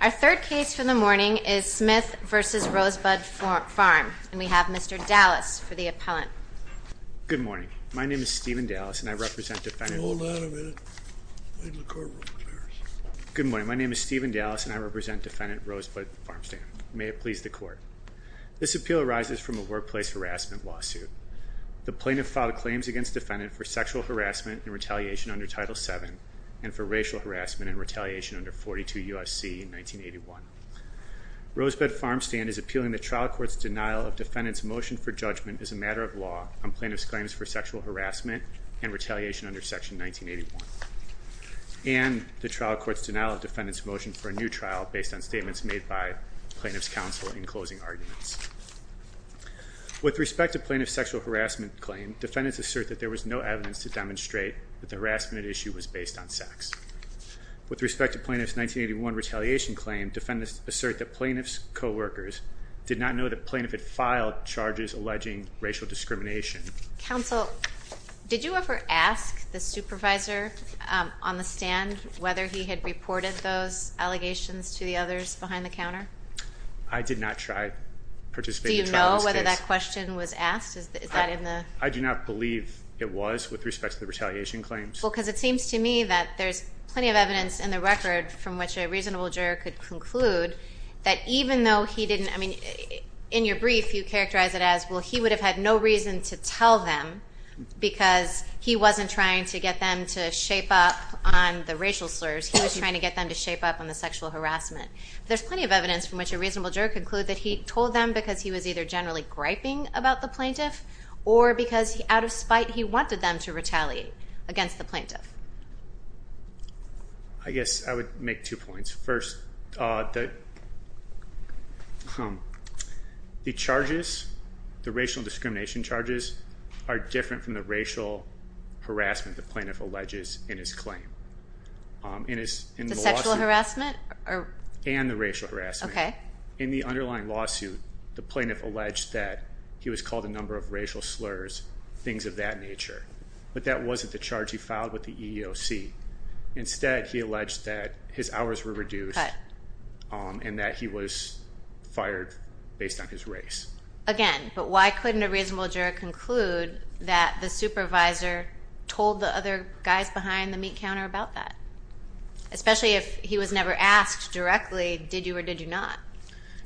Our third case for the morning is Smith v. Rosebud Farm, and we have Mr. Dallas for the appellant. Good morning, my name is Stephen Dallas and I represent Defendant Rosebud Farm Stand. May it please the court. This appeal arises from a workplace harassment lawsuit. The plaintiff filed claims against the defendant for sexual harassment and retaliation under Section 1981. Rosebud Farm Stand is appealing the trial court's denial of defendant's motion for judgment as a matter of law on plaintiff's claims for sexual harassment and retaliation under Section 1981, and the trial court's denial of defendant's motion for a new trial based on statements made by plaintiff's counsel in closing arguments. With respect to plaintiff's sexual harassment claim, defendants assert that there was no evidence to demonstrate that the harassment issue was based on sex. With respect to plaintiff's 1981 retaliation claim, defendants assert that plaintiff's co-workers did not know that plaintiff had filed charges alleging racial discrimination. Counsel, did you ever ask the supervisor on the stand whether he had reported those allegations to the others behind the counter? I did not try to participate in the trial in this case. Do you know whether that question was asked? Is that in the... I do not believe it was with respect to the retaliation claims. Well, because it seems to me that there's plenty of evidence in the record from which a reasonable juror could conclude that even though he didn't, I mean, in your brief you characterized it as, well, he would have had no reason to tell them because he wasn't trying to get them to shape up on the racial slurs, he was trying to get them to shape up on the sexual harassment. There's plenty of evidence from which a reasonable juror could conclude that he told them because he was either generally griping about the plaintiff or because out of spite he wanted them to retaliate against the plaintiff. I guess I would make two points. First, the charges, the racial discrimination charges are different from the racial harassment the plaintiff alleges in his claim. In his... The sexual harassment? And the racial harassment. In the underlying lawsuit, the plaintiff alleged that he was called a number of racial slurs, things of that nature, but that wasn't the charge he filed with the EEOC. Instead he alleged that his hours were reduced and that he was fired based on his race. Again, but why couldn't a reasonable juror conclude that the supervisor told the other guys behind the meat counter about that? Especially if he was never asked directly, did you or did you not?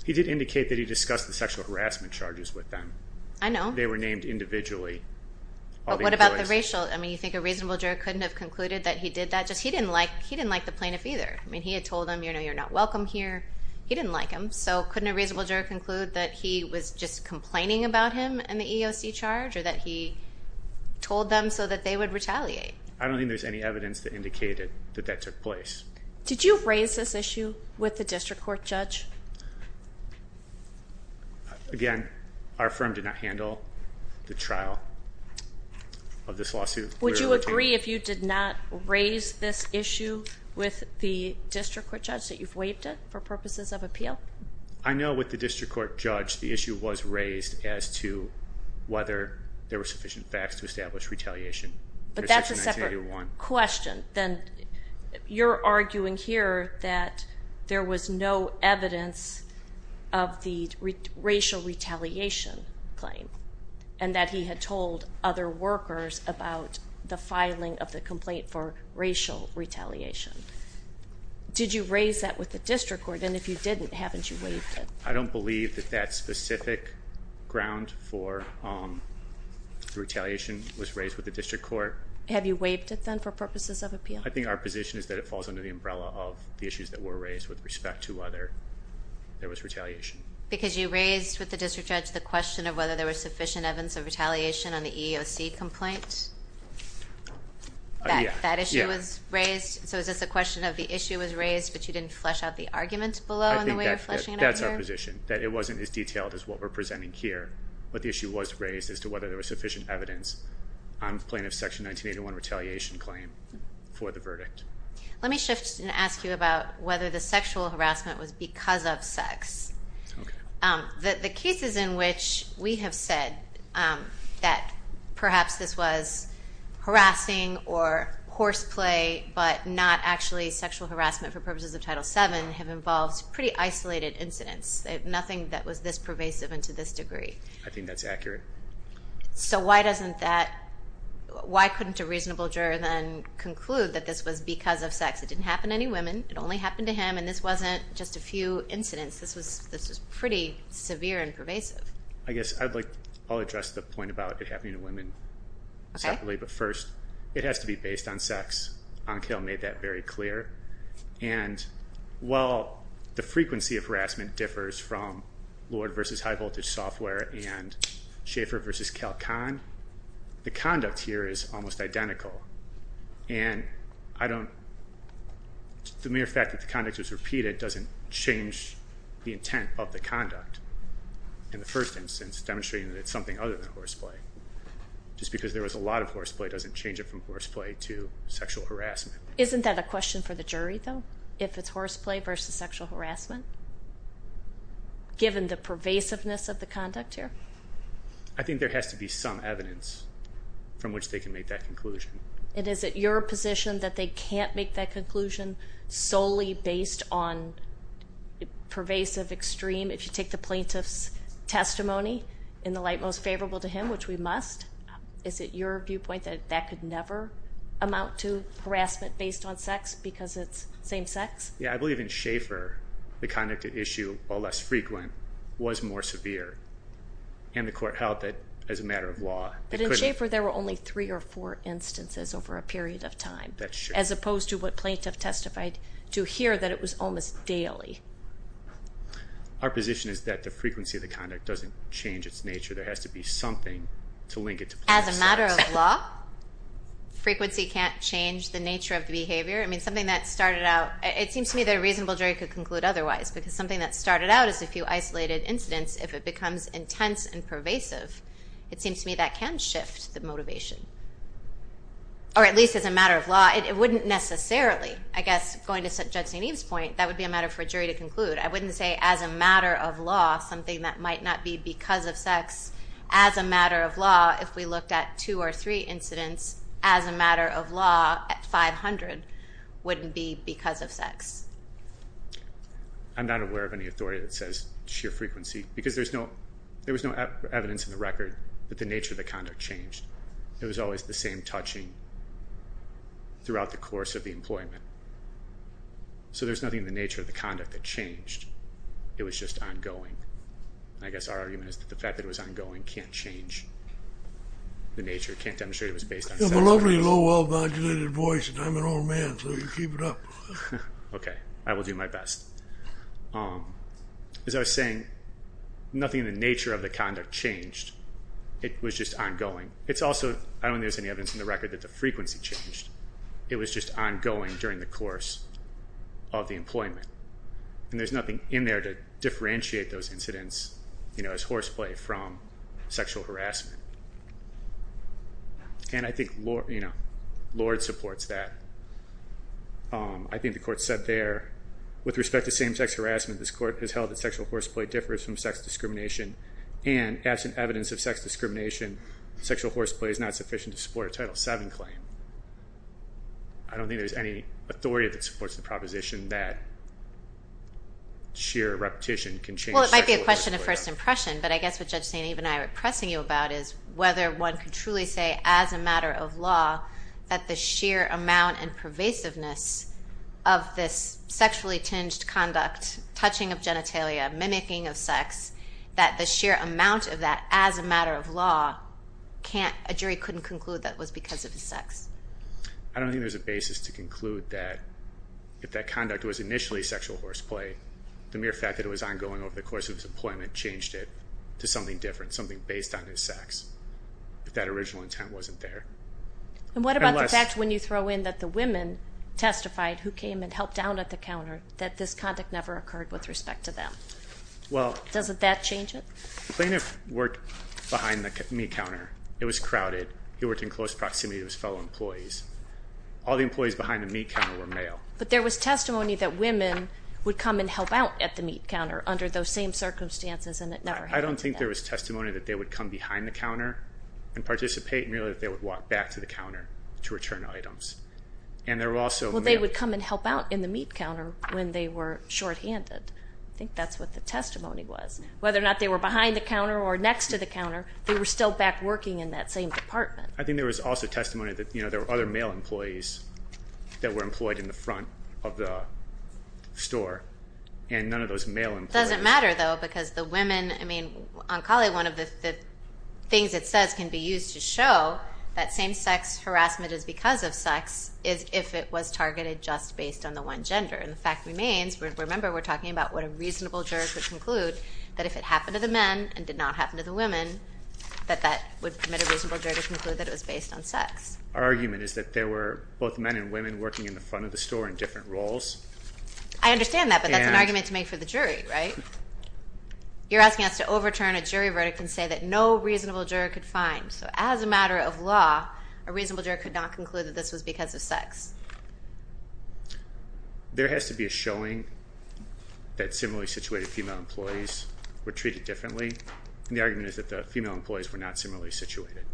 He did indicate that he discussed the sexual harassment charges with them. I know. They were named individually. But what about the racial, I mean, you think a reasonable juror couldn't have concluded that he did that? Just he didn't like, he didn't like the plaintiff either. I mean, he had told them, you know, you're not welcome here. He didn't like them. So couldn't a reasonable juror conclude that he was just complaining about him and the EEOC charge or that he told them so that they would retaliate? I don't think there's any evidence that indicated that that took place. Did you raise this issue with the district court judge? Again, our firm did not handle the trial of this lawsuit. Would you agree if you did not raise this issue with the district court judge that you've waived it for purposes of appeal? I know with the district court judge, the issue was raised as to whether there were sufficient facts to establish retaliation. But that's a separate question. Then you're arguing here that there was no evidence of the racial retaliation claim and that he had told other workers about the filing of the complaint for racial retaliation. Did you raise that with the district court? And if you didn't, haven't you waived it? I don't believe that that specific ground for retaliation was raised with the district court. Have you waived it then for purposes of appeal? I think our position is that it falls under the umbrella of the issues that were raised with respect to whether there was retaliation. Because you raised with the district judge the question of whether there was sufficient evidence of retaliation on the EEOC complaint? That issue was raised? So is this a question of the issue was raised, but you didn't flesh out the argument below in the way you're fleshing it out here? I think that's our position, that it wasn't as detailed as what we're presenting here, but the issue was raised as to whether there was sufficient evidence on plaintiff's Section 1981 retaliation claim for the verdict. Let me shift and ask you about whether the sexual harassment was because of sex. The cases in which we have said that perhaps this was harassing or horseplay, but not actually sexual harassment for purposes of Title VII, have involved pretty isolated incidents. Nothing that was this pervasive and to this degree. I think that's accurate. So why couldn't a reasonable juror then conclude that this was because of sex? It didn't happen to any women. It only happened to him, and this wasn't just a few incidents. This was pretty severe and pervasive. I guess I'll address the point about it happening to women separately, but first it has to be based on sex. Ankhil made that very clear, and while the frequency of harassment differs from Lord v. High Voltage Software and Schaeffer v. Calcon, the conduct here is almost identical. The mere fact that the conduct was repeated doesn't change the intent of the conduct in the first instance, demonstrating that it's something other than horseplay. Just because there was a lot of horseplay doesn't change it from horseplay to sexual harassment. Isn't that a question for the jury though, if it's horseplay versus sexual harassment, given the pervasiveness of the conduct here? I think there has to be some evidence from which they can make that conclusion. And is it your position that they can't make that conclusion solely based on pervasive extreme, if you take the plaintiff's testimony, in the light most favorable to him, which we must? Is it your viewpoint that that could never amount to harassment based on sex because it's same-sex? Yeah, I believe in Schaeffer, the conduct at issue, while less frequent, was more severe, and the court held that as a matter of law, it couldn't. But in Schaeffer, there were only three or four instances over a period of time, as opposed to what plaintiff testified to here, that it was almost daily. Our position is that the frequency of the conduct doesn't change its nature. There has to be something to link it to plaintiff's sex. As a matter of law, frequency can't change the nature of the behavior? I mean, something that started out, it seems to me that a reasonable jury could conclude otherwise because something that started out as a few isolated incidents, if it becomes intense and pervasive, it seems to me that can shift the motivation. Or at least as a matter of law, it wouldn't necessarily. I guess, going to Judge St. Eve's point, that would be a matter for a jury to conclude. I wouldn't say as a matter of law, something that might not be because of sex, as a matter of law, if we looked at two or three incidents, as a matter of law, at 500, wouldn't be because of sex. I'm not aware of any authority that says sheer frequency because there was no evidence in the record that the nature of the conduct changed. It was always the same touching throughout the course of the employment. So there's nothing in the nature of the conduct that changed. It was just ongoing. I guess our argument is that the fact that it was ongoing can't change the nature, can't demonstrate it was based on sex. You have a lovely, low, well-vigilated voice, and I'm an old man, so you keep it up. Okay. I will do my best. As I was saying, nothing in the nature of the conduct changed. It was just ongoing. I don't think there's any evidence in the record that the frequency changed. It was just ongoing during the course of the employment, and there's nothing in there to differentiate those incidents as horseplay from sexual harassment. And I think Lorde supports that. I think the court said there, with respect to same-sex harassment, this court has held that sexual horseplay differs from sex discrimination, and absent evidence of sex discrimination, sexual horseplay is not sufficient to support a Title VII claim. I don't think there's any authority that supports the proposition that sheer repetition can change sexual horseplay. Well, it might be a question of first impression, but I guess what Judge St. Eve and I are pressing you about is whether one can truly say, as a matter of law, that the sheer amount and pervasiveness of this sexually tinged conduct, touching of genitalia, mimicking of sex, that the sheer amount of that, as a matter of law, a jury couldn't conclude that was because of his sex. I don't think there's a basis to conclude that if that conduct was initially sexual horseplay, the mere fact that it was ongoing over the course of his employment changed it to something different, something based on his sex, if that original intent wasn't there. And what about the fact when you throw in that the women testified who came and helped down at the counter, that this conduct never occurred with respect to them? Well... Doesn't that change it? The plaintiff worked behind the meat counter. It was crowded. He worked in close proximity to his fellow employees. All the employees behind the meat counter were male. But there was testimony that women would come and help out at the meat counter under those same circumstances, and it never happened to them. I don't think there was testimony that they would come behind the counter and participate, merely that they would walk back to the counter to return items. And there were also... Well, they would come and help out in the meat counter when they were shorthanded. I think that's what the testimony was. Whether or not they were behind the counter or next to the counter, they were still back working in that same department. I think there was also testimony that there were other male employees that were employed in the front of the store, and none of those male employees... Doesn't matter, though, because the women, I mean, on Collie, one of the things it says can be used to show that same-sex harassment is because of sex, is if it was targeted just based on the one gender. And the fact remains, remember, we're talking about what a reasonable juror could conclude, that if it happened to the men and did not happen to the women, that that would permit a reasonable juror to conclude that it was based on sex. Our argument is that there were both men and women working in the front of the store in different roles. I understand that, but that's an argument to make for the jury, right? You're asking us to overturn a jury verdict and say that no reasonable juror could find. So as a matter of law, a reasonable juror could not conclude that this was because of sex. There has to be a showing that similarly situated female employees were treated differently, and the argument is that the female employees were not similarly situated.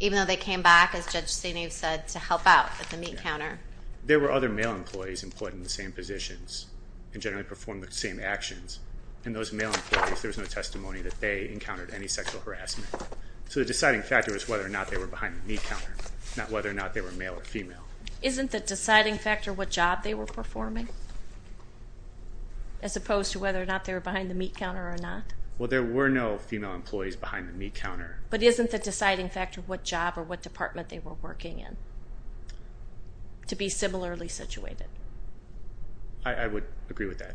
Even though they came back, as Judge Senev said, to help out at the meat counter. There were other male employees employed in the same positions and generally performed the same actions, and those male employees, there was no testimony that they encountered any sexual harassment. So the deciding factor was whether or not they were behind the meat counter, not whether or not they were male or female. Isn't the deciding factor what job they were performing? As opposed to whether or not they were behind the meat counter or not? Well, there were no female employees behind the meat counter. But isn't the deciding factor what job or what department they were working in? To be similarly situated? I would agree with that.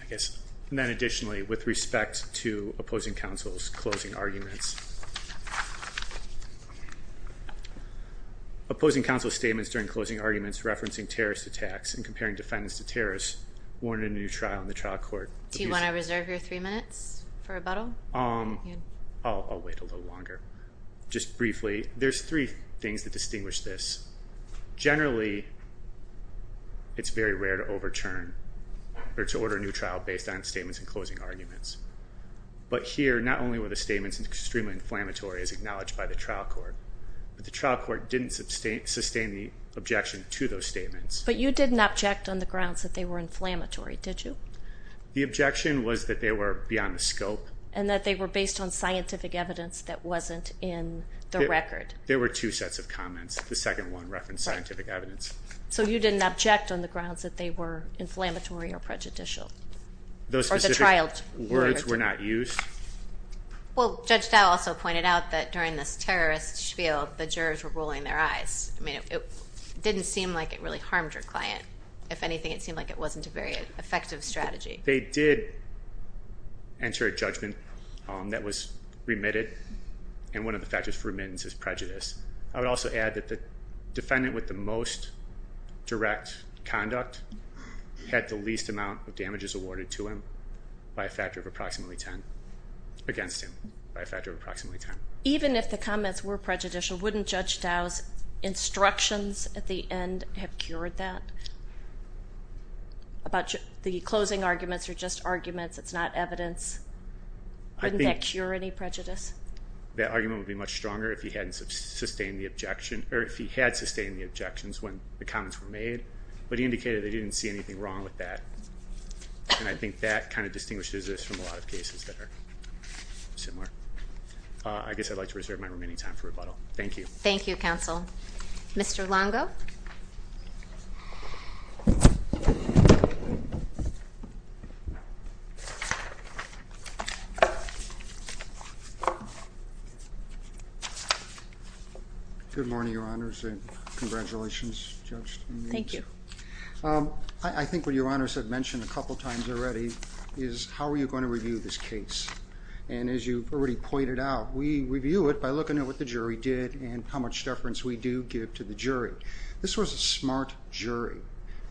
I guess, and then additionally, with respect to opposing counsel's closing arguments. Opposing counsel's statements during closing arguments referencing terrorist attacks and comparing defendants to terrorists warranted a new trial in the trial court. Do you want to reserve your three minutes for rebuttal? I'll wait a little longer. Just briefly, there's three things that distinguish this. Generally, it's very rare to overturn or to order a new trial based on statements in closing arguments. But here, not only were the statements extremely inflammatory as acknowledged by the trial court, but the trial court didn't sustain the objection to those statements. But you didn't object on the grounds that they were inflammatory, did you? The objection was that they were beyond the scope. And that they were based on scientific evidence that wasn't in the record. There were two sets of comments. The second one referenced scientific evidence. So you didn't object on the grounds that they were inflammatory or prejudicial? Those specific words were not used? Well, Judge Dow also pointed out that during this terrorist spiel, the jurors were rolling their eyes. I mean, it didn't seem like it really harmed your client. If anything, it seemed like it wasn't a very effective strategy. They did enter a judgment that was remitted. And one of the factors for remittance is prejudice. I would also add that the defendant with the most direct conduct had the least amount of damages awarded to him by a factor of approximately 10 against him, by a factor of approximately 10. Even if the comments were prejudicial, wouldn't Judge Dow's instructions at the end have cured that? The closing arguments are just arguments. It's not evidence. Wouldn't that cure any prejudice? That argument would be much stronger if he hadn't sustained the objection, or if he had sustained the objections when the comments were made, but he indicated that he didn't see anything wrong with that. And I think that kind of distinguishes this from a lot of cases that are similar. I guess I'd like to reserve my remaining time for rebuttal. Thank you. Thank you, counsel. Mr. Longo? Good morning, Your Honors, and congratulations, Judge. Thank you. I think what Your Honors have mentioned a couple times already is how are you going to review this case. And as you've already pointed out, we review it by looking at what the jury did and how much deference we do give to the jury. This was a smart jury,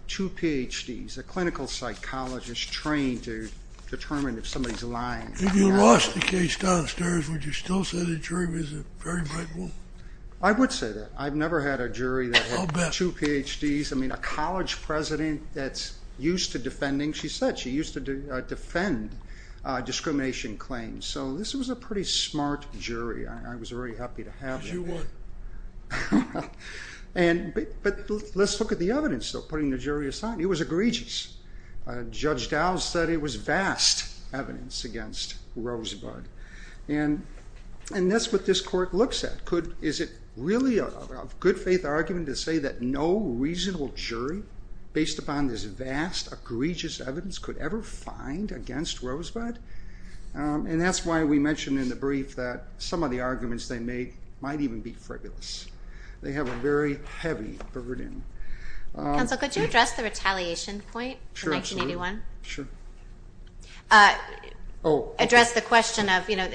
two Ph.D.'s, a clinical psychologist trained to determine if somebody's lying. If you lost the case downstairs, would you still say the jury was a very rightful? I would say that. I've never had a jury that had two Ph.D.'s. I mean, a college president that's used to defending. She said she used to defend discrimination claims. So this was a pretty smart jury. I was very happy to have that. Because you won. But let's look at the evidence, though, putting the jury aside. It was egregious. Judge Dow said it was vast evidence against Rosebud. And that's what this court looks at. Is it really a good faith argument to say that no reasonable jury, based upon this vast, egregious evidence, could ever find against Rosebud? And that's why we mentioned in the brief that some of the arguments they made might even be frivolous. They have a very heavy burden. Counsel, could you address the retaliation point in 1981? Sure. Sure. Address the question of, you know,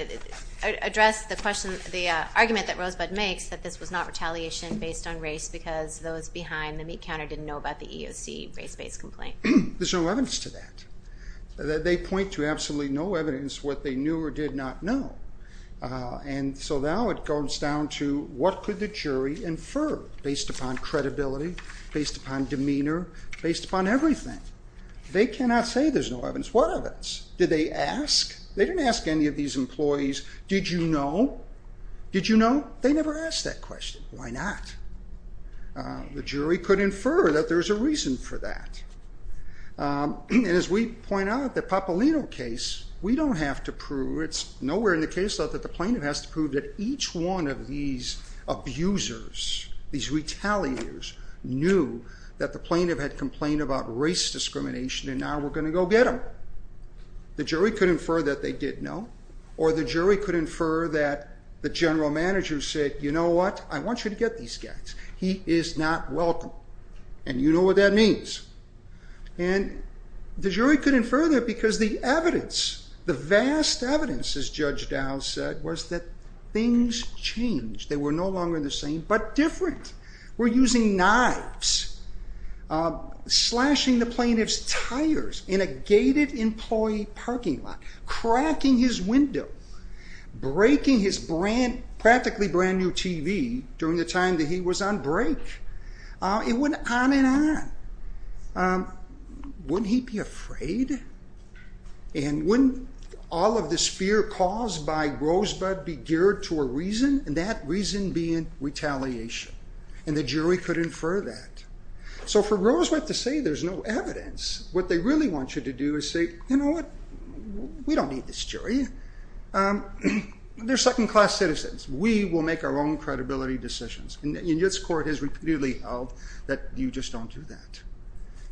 address the question, the argument that Rosebud makes that this was not retaliation based on race because those behind the meat counter didn't know about the EOC race-based complaint. There's no evidence to that. They point to absolutely no evidence what they knew or did not know. And so now it goes down to what could the jury infer based upon credibility, based upon demeanor, based upon everything? They cannot say there's no evidence. What evidence? Did they ask? They didn't ask any of these employees, did you know? Did you know? They never asked that question. Why not? The jury could infer that there's a reason for that. And as we point out, the Papalino case, we don't have to prove, it's nowhere in the case that the plaintiff has to prove that each one of these abusers, these retaliators, knew that the plaintiff had complained about race discrimination and now we're going to go get them. The jury could infer that they did know or the jury could infer that the general manager said, you know what, I want you to get these guys. He is not welcome. And you know what that means. And the jury couldn't infer that because the evidence, the vast evidence as Judge Dow said was that things changed. They were no longer the same, but different. We're using knives, slashing the plaintiff's tires in a gated employee parking lot, cracking his window, breaking his practically brand new TV during the time that he was on break. It went on and on. Wouldn't he be afraid? And wouldn't all of this fear caused by Rosebud be geared to a reason and that reason being retaliation? And the jury could infer that. So for Rosebud to say there's no evidence, what they really want you to do is say, you don't need this jury. They're second class citizens. We will make our own credibility decisions. And this court has repeatedly held that you just don't do that.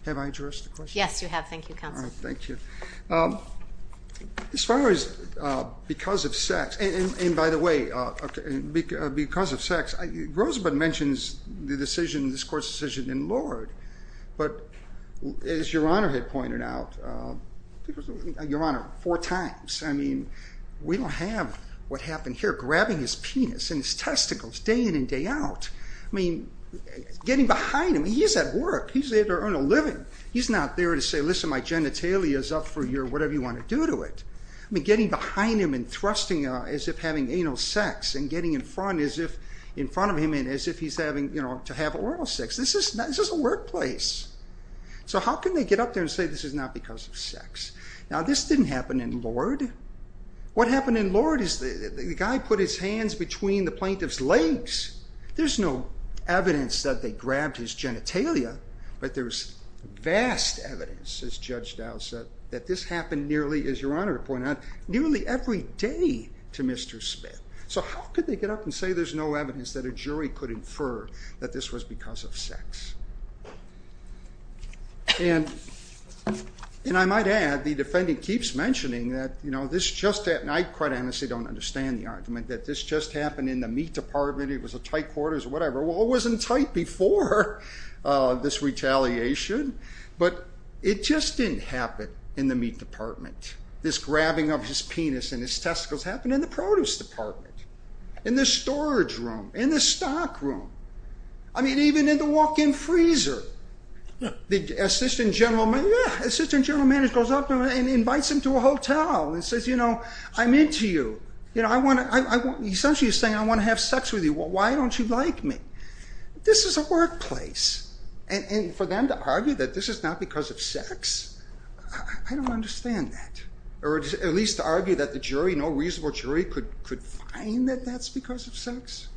Have I addressed the question? Yes, you have. Thank you, counsel. All right. Thank you. As far as because of sex, and by the way, because of sex, Rosebud mentions the decision, this court's decision in Lord. But as Your Honor had pointed out, Your Honor, four times, I mean, we don't have what happened here, grabbing his penis and his testicles day in and day out, I mean, getting behind him, he's at work, he's there to earn a living. He's not there to say, listen, my genitalia is up for your whatever you want to do to it. I mean, getting behind him and thrusting as if having anal sex and getting in front of him as if he's having, you know, to have oral sex. This is a workplace. So how can they get up there and say this is not because of sex? Now this didn't happen in Lord. What happened in Lord is the guy put his hands between the plaintiff's legs. There's no evidence that they grabbed his genitalia, but there's vast evidence, as Judge Dow said, that this happened nearly, as Your Honor pointed out, nearly every day to Mr. Smith. So how could they get up and say there's no evidence that a jury could infer that this was because of sex? And I might add, the defendant keeps mentioning that, you know, this just happened, and I quite honestly don't understand the argument that this just happened in the meat department, it was a tight quarters or whatever. Well, it wasn't tight before this retaliation, but it just didn't happen in the meat department. This grabbing of his penis and his testicles happened in the produce department, in the storage room, in the stock room. I mean, even in the walk-in freezer, the assistant general manager goes up and invites him to a hotel and says, you know, I'm into you, you know, essentially he's saying I want to have sex with you. Why don't you like me? This is a workplace, and for them to argue that this is not because of sex, I don't understand that. Or at least to argue that the jury, no reasonable jury, could find that that's because of sex.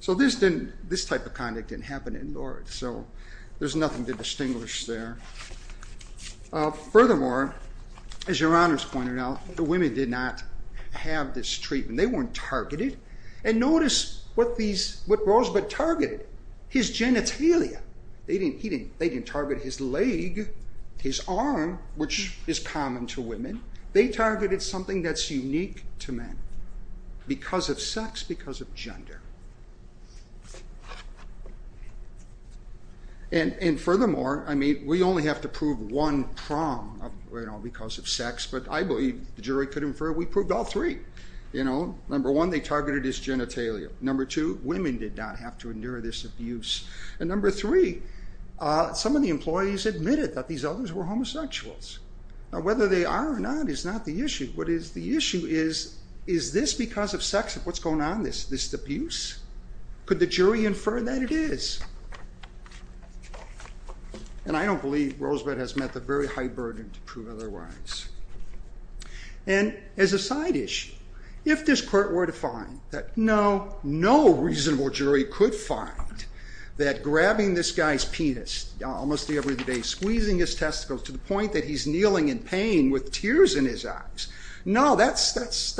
So this didn't, this type of conduct didn't happen indoors, so there's nothing to distinguish there. Furthermore, as your Honor's pointed out, the women did not have this treatment. They weren't targeted. And notice what these, what Rosebud targeted. His genitalia. They didn't, he didn't, they didn't target his leg, his arm, which is common to women. They targeted something that's unique to men. Because of sex, because of gender. And furthermore, I mean, we only have to prove one prong of, you know, because of sex, but I believe the jury could infer we proved all three. You know, number one, they targeted his genitalia. Number two, women did not have to endure this abuse. And number three, some of the employees admitted that these others were homosexuals. Whether they are or not is not the issue. What is the issue is, is this because of sex? What's going on? Is this abuse? Could the jury infer that it is? And I don't believe Rosebud has met the very high burden to prove otherwise. And as a side issue, if this court were to find that, no, no reasonable jury could find that grabbing this guy's penis almost every day, squeezing his testicles to the point that he's kneeling in pain with tears in his eyes, no, that's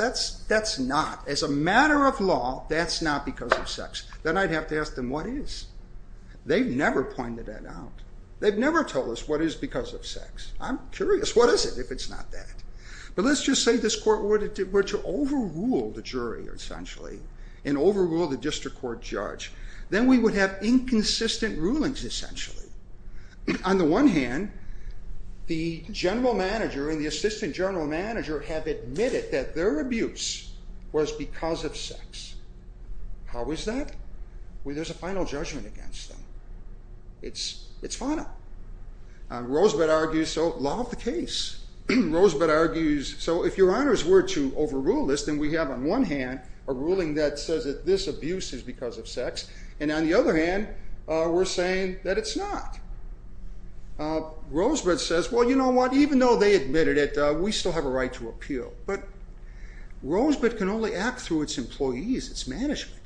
not. As a matter of law, that's not because of sex. Then I'd have to ask them what is. They've never pointed that out. They've never told us what is because of sex. I'm curious. What is it if it's not that? But let's just say this court were to overrule the jury, essentially, and overrule the district court judge. Then we would have inconsistent rulings, essentially. On the one hand, the general manager and the assistant general manager have admitted that their abuse was because of sex. How is that? Well, there's a final judgment against them. It's final. Rosebud argues, so, law of the case. Rosebud argues, so if your honors were to overrule this, then we have on one hand a ruling that says that this abuse is because of sex, and on the other hand, we're saying that it's not. Rosebud says, well, you know what, even though they admitted it, we still have a right to appeal. But Rosebud can only act through its employees, its management.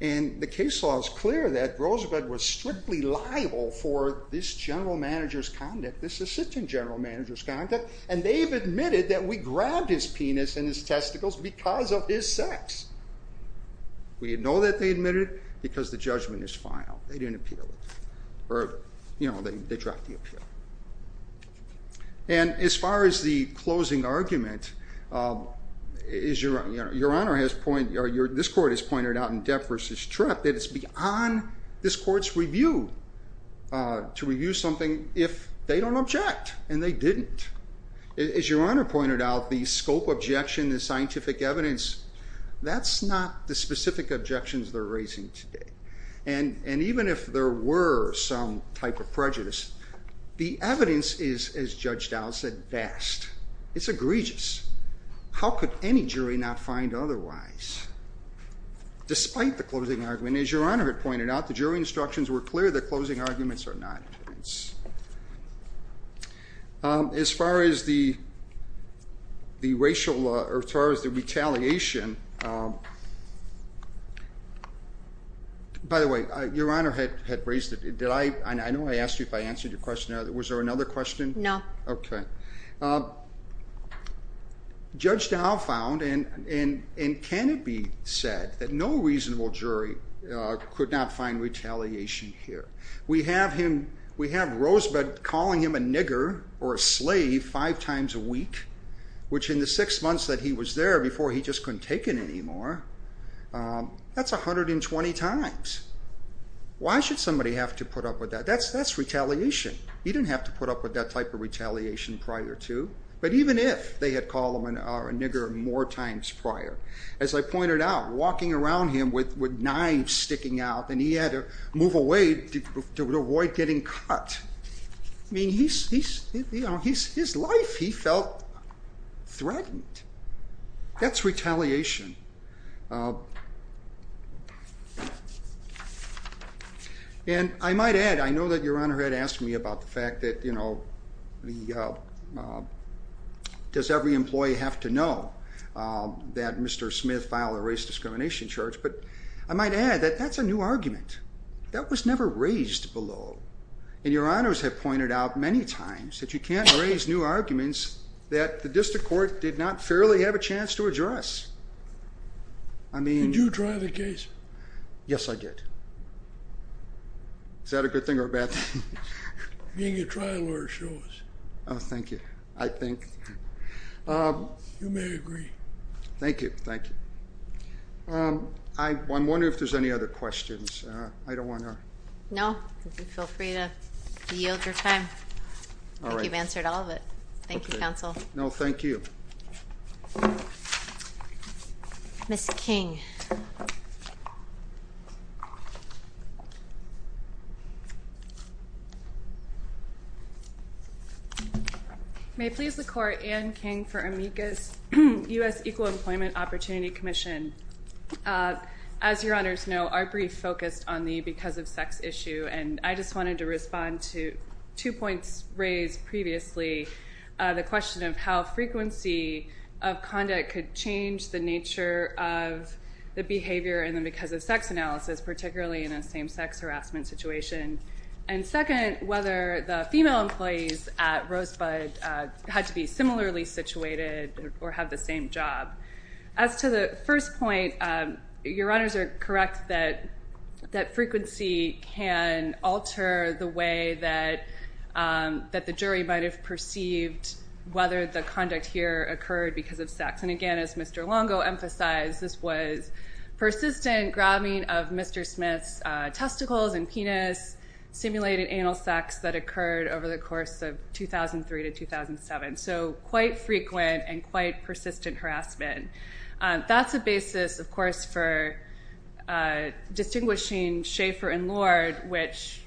The case law is clear that Rosebud was strictly liable for this general manager's conduct, this assistant general manager's conduct, and they've admitted that we grabbed his penis and his testicles because of his sex. We know that they admitted it because the judgment is final. They didn't appeal it, or they dropped the appeal. And as far as the closing argument, this court has pointed out in Depp v. Tripp that it's beyond this court's review to review something if they don't object, and they didn't. As your honor pointed out, the scope objection, the scientific evidence, that's not the specific objections they're raising today. And even if there were some type of prejudice, the evidence is, as Judge Dow said, vast. It's egregious. How could any jury not find otherwise? Despite the closing argument, as your honor had pointed out, the jury instructions were clear that closing arguments are not evidence. As far as the racial, or as far as the retaliation, by the way, your honor had raised it, did I, I know I asked you if I answered your question, was there another question? No. Okay. Judge Dow found, and can it be said, that no reasonable jury could not find retaliation here? We have him, we have Rosebud calling him a nigger, or a slave, five times a week, which in the six months that he was there, before he just couldn't take it anymore, that's 120 times. Why should somebody have to put up with that? That's retaliation. He didn't have to put up with that type of retaliation prior to. But even if they had called him a nigger more times prior, as I pointed out, walking around him with knives sticking out, and he had to move away to avoid getting cut, his life, he felt threatened. That's retaliation. And I might add, I know that your honor had asked me about the fact that, you know, does every employee have to know that Mr. Smith filed a race discrimination charge? But I might add that that's a new argument. That was never raised below. And your honors have pointed out many times that you can't raise new arguments that the district court did not fairly have a chance to address. I mean... Did you try the case? Yes, I did. Is that a good thing or a bad thing? You can get trial lawyers to show us. Oh, thank you. I think. You may agree. Thank you. Thank you. I'm wondering if there's any other questions. I don't want to... No. Feel free to yield your time. All right. I think you've answered all of it. Thank you, counsel. No, thank you. Ms. King. May it please the Court, Anne King for AMECA's U.S. Equal Employment Opportunity Commission. As your honors know, our brief focused on the because of sex issue, and I just wanted to respond to two points raised previously, the question of how frequency of conduct could change the nature of the behavior in the because of sex analysis, particularly in a same-sex harassment situation, and second, whether the female employees at Rosebud had to be similarly situated or have the same job. As to the first point, your honors are correct that frequency can alter the way that the jury might have perceived whether the conduct here occurred because of sex, and again, as Mr. Longo emphasized, this was persistent grabbing of Mr. Smith's testicles and penis, simulated anal sex that occurred over the course of 2003 to 2007, so quite frequent and quite persistent harassment. That's a basis, of course, for distinguishing Schaefer and Lord, which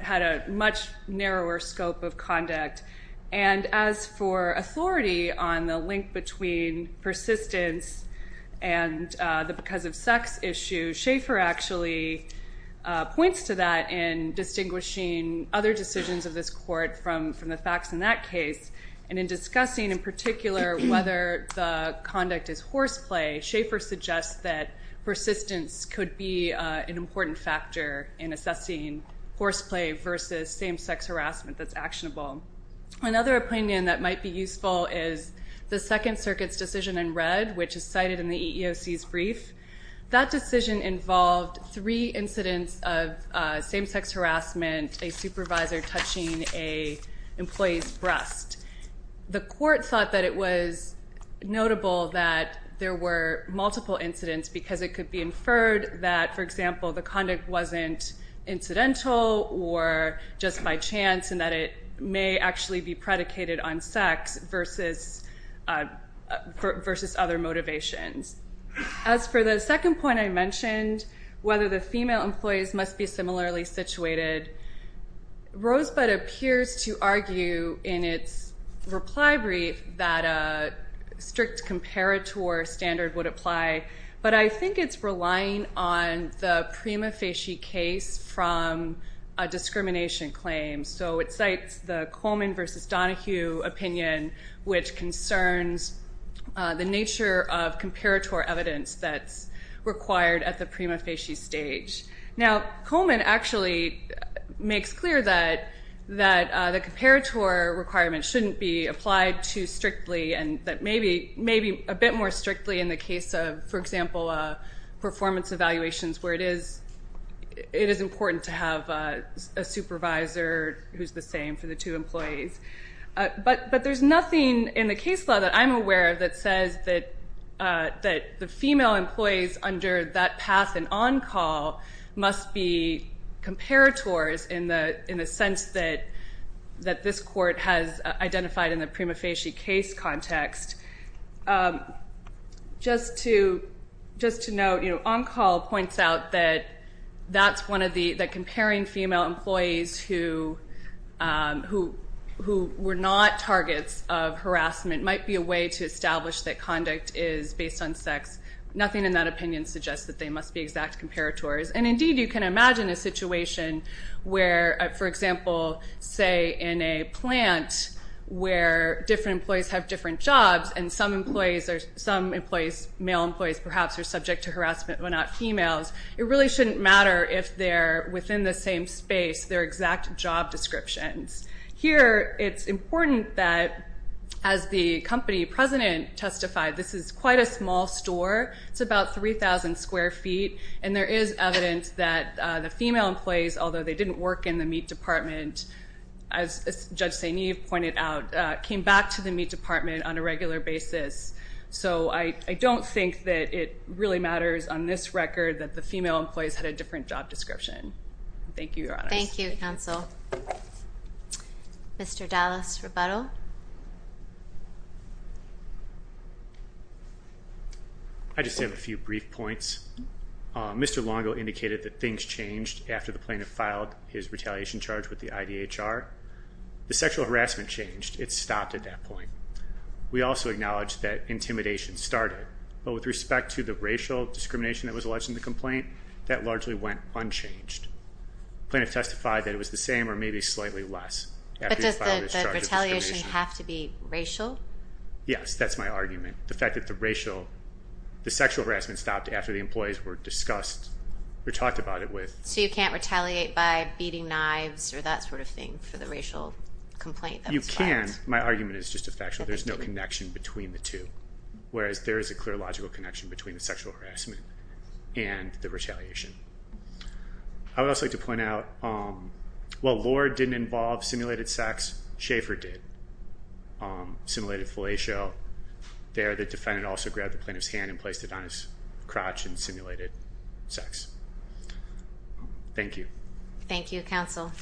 had a much narrower scope of conduct, and as for authority on the link between persistence and the because of sex issue, Schaefer actually points to that in distinguishing other decisions of this Court from the facts in that case, and in discussing in particular whether the conduct is horseplay, Schaefer suggests that persistence could be an important factor in assessing horseplay versus same-sex harassment that's actionable. Another opinion that might be useful is the Second Circuit's decision in red, which is cited in the EEOC's brief. That decision involved three incidents of same-sex harassment, a supervisor touching an employee's breast. The Court thought that it was notable that there were multiple incidents because it could be inferred that, for example, the conduct wasn't incidental or just by chance and that it may actually be predicated on sex versus other motivations. As for the second point I mentioned, whether the female employees must be similarly situated, Rosebud appears to argue in its reply brief that a strict comparator standard would apply, but I think it's relying on the prima facie case from a discrimination claim. So it cites the Coleman v. Donohue opinion, which concerns the nature of comparator evidence that's required at the prima facie stage. Now Coleman actually makes clear that the comparator requirement shouldn't be applied too strictly and that maybe a bit more strictly in the case of, for example, performance evaluations where it is important to have a supervisor who's the same for the two employees. But there's nothing in the case law that I'm aware of that says that the female employees under that path and on-call must be comparators in the sense that this Court has identified in the prima facie case context. Just to note, on-call points out that comparing female employees who were not targets of harassment might be a way to establish that conduct is based on sex. Nothing in that opinion suggests that they must be exact comparators. And indeed you can imagine a situation where, for example, say in a plant where different employees have different jobs and some male employees perhaps are subject to harassment but not females. It really shouldn't matter if they're within the same space, their exact job descriptions. Here it's important that, as the company president testified, this is quite a small store. It's about 3,000 square feet. And there is evidence that the female employees, although they didn't work in the meat department, as Judge St. Eve pointed out, came back to the meat department on a regular basis. So I don't think that it really matters on this record that the female employees had a different job description. Thank you, Your Honors. Thank you, Counsel. Mr. Dallas-Rebuttal. I just have a few brief points. Mr. Longo indicated that things changed after the plaintiff filed his retaliation charge with the IDHR. The sexual harassment changed. It stopped at that point. We also acknowledge that intimidation started. But with respect to the racial discrimination that was alleged in the complaint, that largely went unchanged. The plaintiff testified that it was the same or maybe slightly less after he filed his retaliation. Doesn't have to be racial? Yes. That's my argument. The fact that the sexual harassment stopped after the employees were discussed or talked about it with. So you can't retaliate by beating knives or that sort of thing for the racial complaint that was filed? You can. My argument is just a factual. There's no connection between the two, whereas there is a clear logical connection between the sexual harassment and the retaliation. I would also like to point out, while Lohr didn't involve simulated sex, Schaefer did. Simulated fellatio. There, the defendant also grabbed the plaintiff's hand and placed it on his crotch and simulated sex. Thank you. Thank you, counsel.